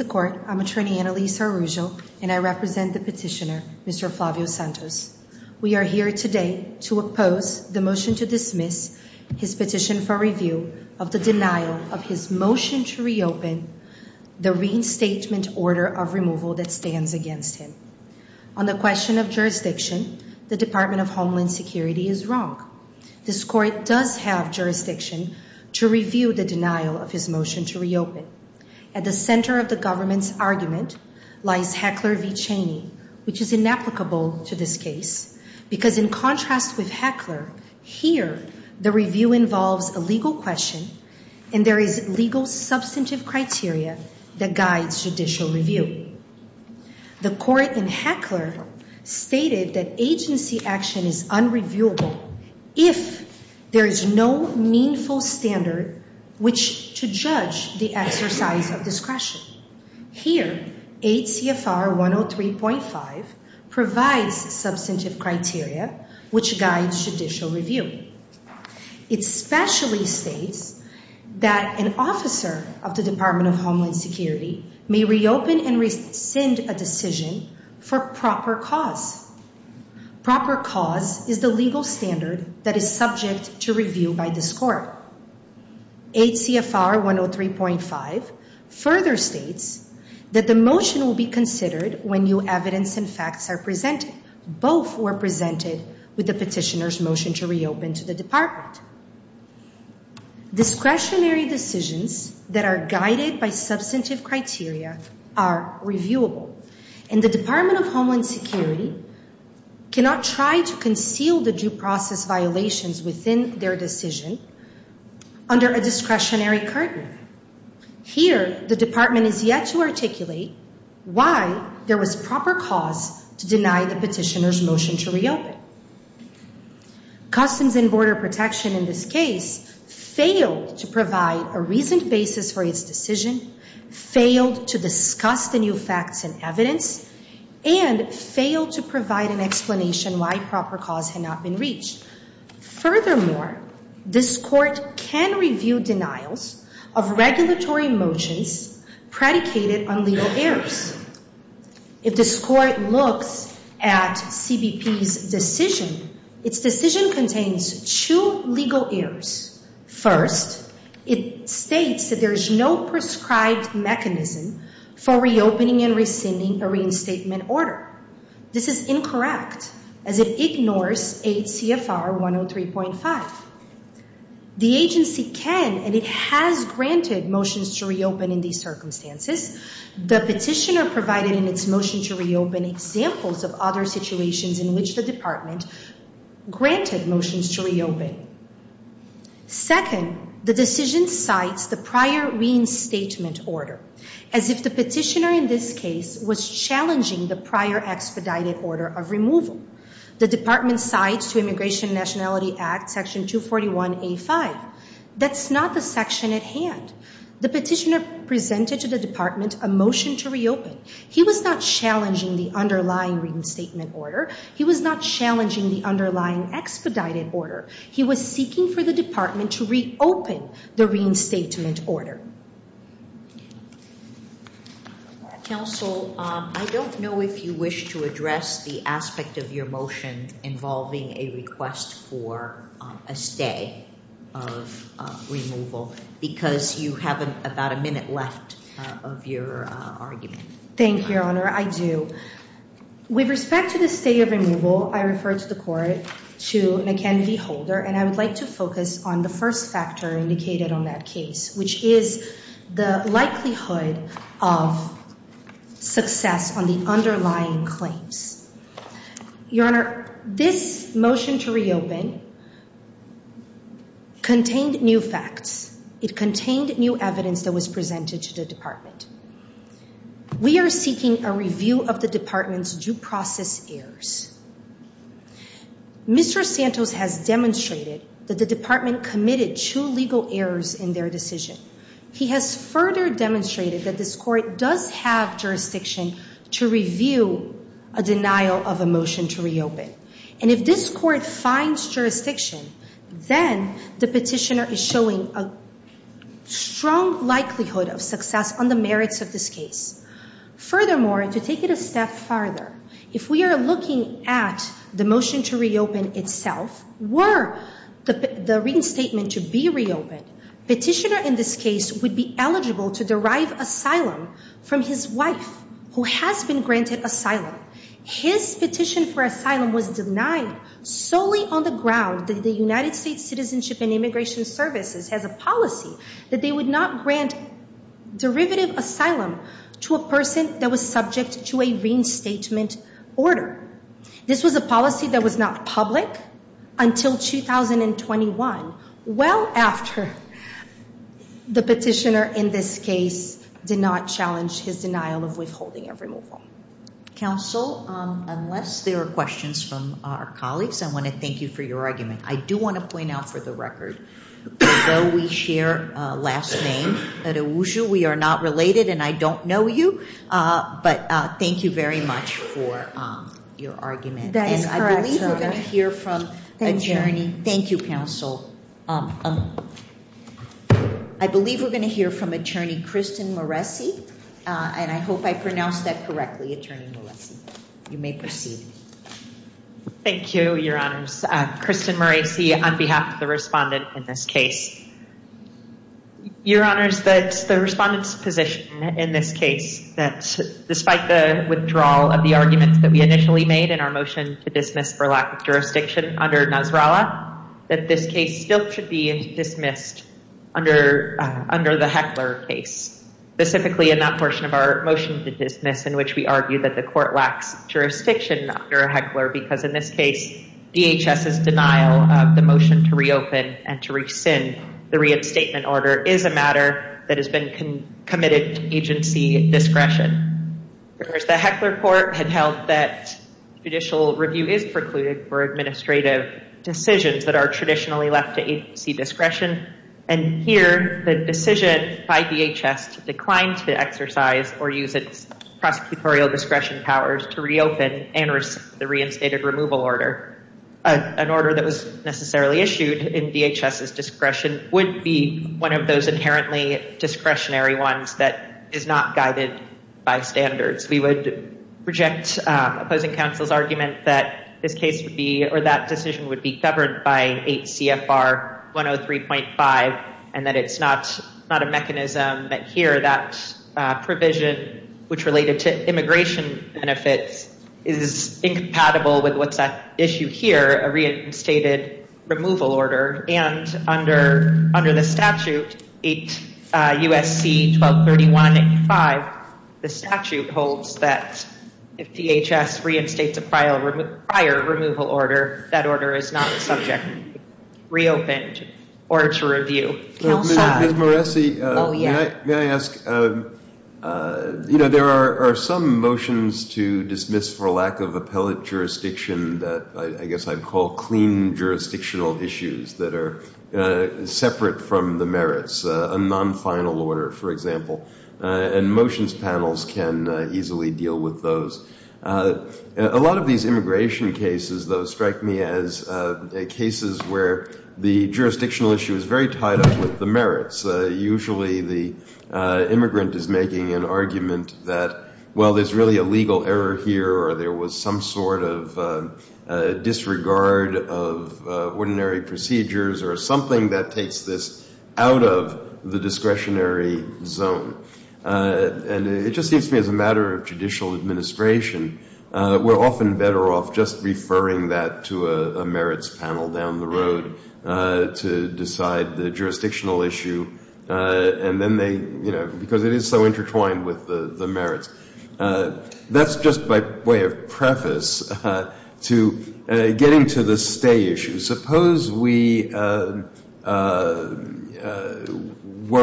the court. I'm attorney Annalisa Arrujo and I represent the petitioner, Mr Flavio Santos. We are here today to oppose the motion to dismiss his petition for review of the denial of his motion to reopen the reinstatement order of removal that stands against him. On the question of jurisdiction, the Department of Homeland Security is wrong. This court does have jurisdiction to review the denial of his motion to reopen. At the center of the government's argument lies Heckler v. Cheney, which is inapplicable to this case because in contrast with Heckler, here the review involves a legal question and there is legal substantive criteria that guides judicial review. The court in Heckler stated that agency action is unreviewable if there is no meaningful standard which to judge the exercise of discretion. Here, 8 CFR 103.5 provides substantive criteria which guides judicial review. It specially states that an officer of the Department of Homeland Security may reopen and rescind a decision for proper cause. Proper cause is the legal standard that is subject to review by this court. 8 CFR 103.5 further states that the motion will be considered when new evidence and facts are presented. Both were presented with the petitioner's motion to reopen to the department. Discretionary decisions that are guided by substantive criteria are reviewable and the Department of Homeland Security cannot try to conceal the due process violations within their decision under a discretionary curtain. Here, the department is yet to articulate why there was proper cause to deny the petitioner's motion to reopen. Customs and Border Protection in this case failed to provide a reasoned basis for its decision, failed to discuss the new facts and evidence, and failed to provide an explanation why proper cause had not been reached. Furthermore, this court can review denials of regulatory motions predicated on legal errors. If this court looks at CBP's decision, its decision contains two legal errors. First, it states that there is no prescribed mechanism for reopening and rescinding a reinstatement order. This is incorrect as it ignores 8 CFR 103.5. The agency can and it has granted motions to reopen in these circumstances. The petitioner provided in its motion to reopen examples of other situations in which the department granted motions to reopen. Second, the decision cites the prior reinstatement order as if the petitioner in this case was challenging the prior expedited order of removal. The department cites to Immigration and Nationality Act Section 241A.5. That's not the section at hand. The petitioner presented to the department a motion to reopen. He was not challenging the underlying reinstatement order. He was not challenging the underlying expedited order. He was seeking for the department to reopen the reinstatement order. Counsel, I don't know if you wish to address the aspect of your motion involving a request for a stay of removal because you have about a minute left of your argument. Thank you, Your Honor. I do. With respect to the stay of removal, I refer to the court to McKenzie Holder, and I would like to focus on the first factor indicated on that case, which is the likelihood of success on the underlying claims. Your Honor, this motion to reopen contained new facts. It contained new evidence that was presented to the department. We are seeking a review of the department's due process errors. Mr. Santos has demonstrated that the department committed two legal errors in their decision. He has further demonstrated that this court does have jurisdiction to review a denial of a motion to reopen. And if this court finds jurisdiction, then the petitioner is showing a strong likelihood of success on the merits of this case. Furthermore, to take it a step farther, if we are looking at the motion to reopen itself, were the reinstatement to be reopened, the petitioner in this case would be eligible to derive asylum from his wife, who has been granted asylum. His petition for asylum was denied solely on the ground that the United States Citizenship and Immigration Services has a policy that they would not grant derivative asylum to a person that was subject to a reinstatement order. This was a policy that was not public until 2021, well after the petitioner in this case did not challenge his denial of withholding a removal. Counsel, unless there are questions from our colleagues, I want to thank you for your argument. I do want to point out for the record, although we share a last name, we are not related and I don't know you, but thank you very much for your argument. That is correct, Your Honor. And I believe we're going to hear from Attorney, thank you, Counsel. I believe we're going to hear from Attorney Kristin Moreci, and I hope I pronounced that correctly, Attorney Moreci. You may proceed. Thank you, Your Honors. Kristin Moreci on behalf of the respondent in this case. Your Honors, the respondent's position in this case, that despite the withdrawal of the arguments that we initially made in our motion to dismiss for lack of jurisdiction under Nasrallah, that this case still should be dismissed under the Heckler case, specifically in that portion of our motion to dismiss in which we argue that the court lacks jurisdiction under Heckler because in this case, DHS's denial of the motion to reopen and to rescind the re-abstainment order is a matter that has been committed to agency discretion. Whereas the Heckler court had held that judicial review is precluded for administrative decisions that are traditionally left to agency discretion, and here the decision by DHS to decline to exercise or use its prosecutorial discretion powers to reopen and rescind the reinstated removal order, an order that was necessarily issued in DHS's discretion would be one of those inherently discretionary ones that is not guided by standards. We would reject opposing counsel's argument that this case would be, or that decision would be governed by 8 CFR 103.5, and that it's not a mechanism that here that provision, which related to immigration benefits, is incompatible with what's at issue here, a reinstated removal order, and under the statute 8 USC 1231.85, the statute holds that if DHS reinstates a prior removal order, that order is not subject to being reopened or to review. Ms. Moreci, may I ask, you know, there are some motions to dismiss for lack of appellate jurisdiction that I guess I'd call clean jurisdictional issues that are separate from the merits, a non-final order, for example, and motions panels can easily deal with those. A lot of these cases where the jurisdictional issue is very tied up with the merits. Usually the immigrant is making an argument that, well, there's really a legal error here or there was some sort of disregard of ordinary procedures or something that takes this out of the discretionary zone. And it just seems to me as a matter of judicial administration, we're often better off just deferring that to a merits panel down the road to decide the jurisdictional issue and then they, you know, because it is so intertwined with the merits. That's just by way of preface to getting to the stay issue. Suppose we were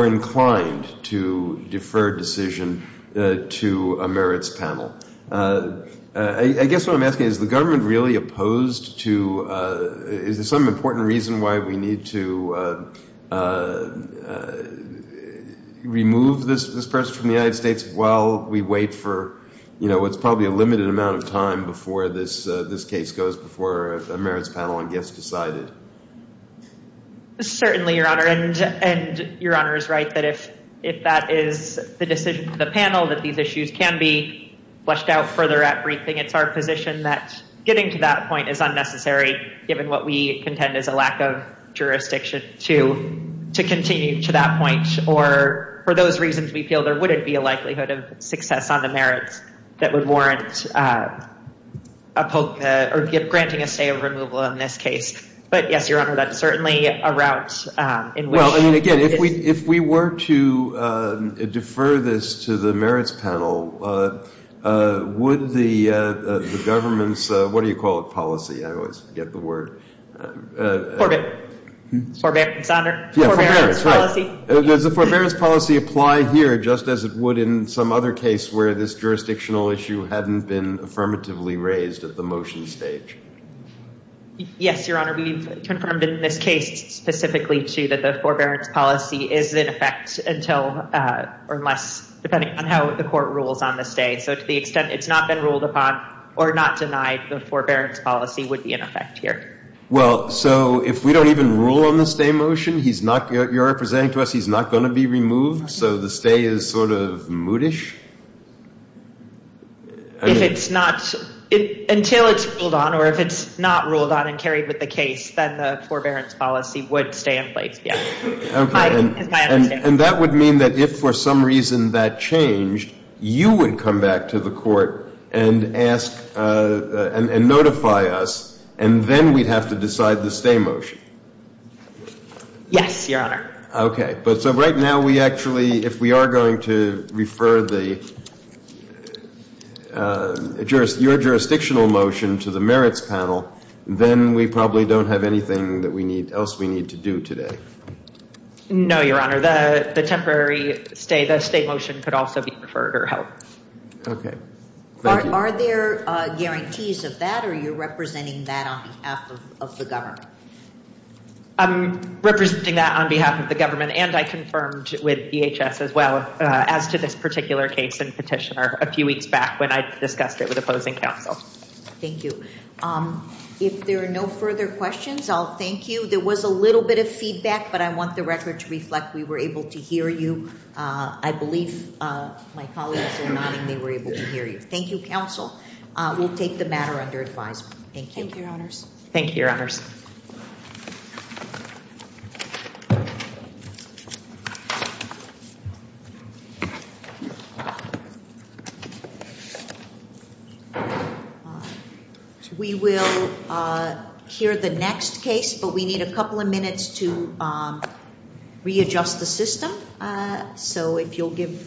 inclined to defer decision to a merits panel. I guess what I'm asking is the government really opposed to, is there some important reason why we need to remove this person from the United States while we wait for, you know, what's probably a limited amount of time before this case goes before a merits panel gets decided? Certainly, Your Honor. And Your Honor is right that if that is the decision of the panel that these issues can be fleshed out further at briefing, it's our position that getting to that point is unnecessary given what we contend is a lack of jurisdiction to continue to that point or for those reasons we feel there wouldn't be a likelihood of success on the merits that would warrant granting a stay of removal in this case. But yes, Your Honor, that's certainly a route in which... Well, I mean, again, if we were to defer this to the merits panel, would the government's, what do you call it, policy? I always forget the word. Forbearance. Forbearance policy. Yeah, forbearance, right. Does the forbearance policy apply here just as it would in some other case where this jurisdictional issue hadn't been affirmatively raised at the motion stage? Yes, Your Honor. We've confirmed in this case specifically too that the forbearance policy is in effect until or unless, depending on how the court rules on the stay. So to the extent it's not been ruled upon or not denied, the forbearance policy would be in effect here. Well, so if we don't even rule on the stay motion, he's not, you're representing to us he's not going to be removed, so the stay is sort of moodish? If it's not, until it's ruled on or if it's not ruled on and carried with the case, then the forbearance policy would stay in place, yes. Okay, and that would mean that if for some reason that changed, you would come back to the court and ask, and notify us, and then we'd have to decide the stay motion. Yes, Your Honor. Okay, but so right now we actually, if we are going to refer your jurisdictional motion to the merits panel, then we probably don't have anything else we need to do today. No, Your Honor. The temporary stay, the stay motion could also be referred or held. Okay. Are there guarantees of that, or are you representing that on behalf of the government? I'm representing that on behalf of the government, and I confirmed with DHS as well, as to this particular case and petitioner a few weeks back when I discussed it with opposing counsel. Thank you. If there are no further questions, I'll thank you. There was a little bit of feedback, but I want the record to reflect we were able to hear you. I believe my colleagues were nodding they were able to hear you. Thank you, counsel. We'll take the matter under advisement. Thank you. Thank you, Your Honors. Thank you, Your Honors. We will hear the next case, but we need a couple of minutes to readjust the system. So if you'll give.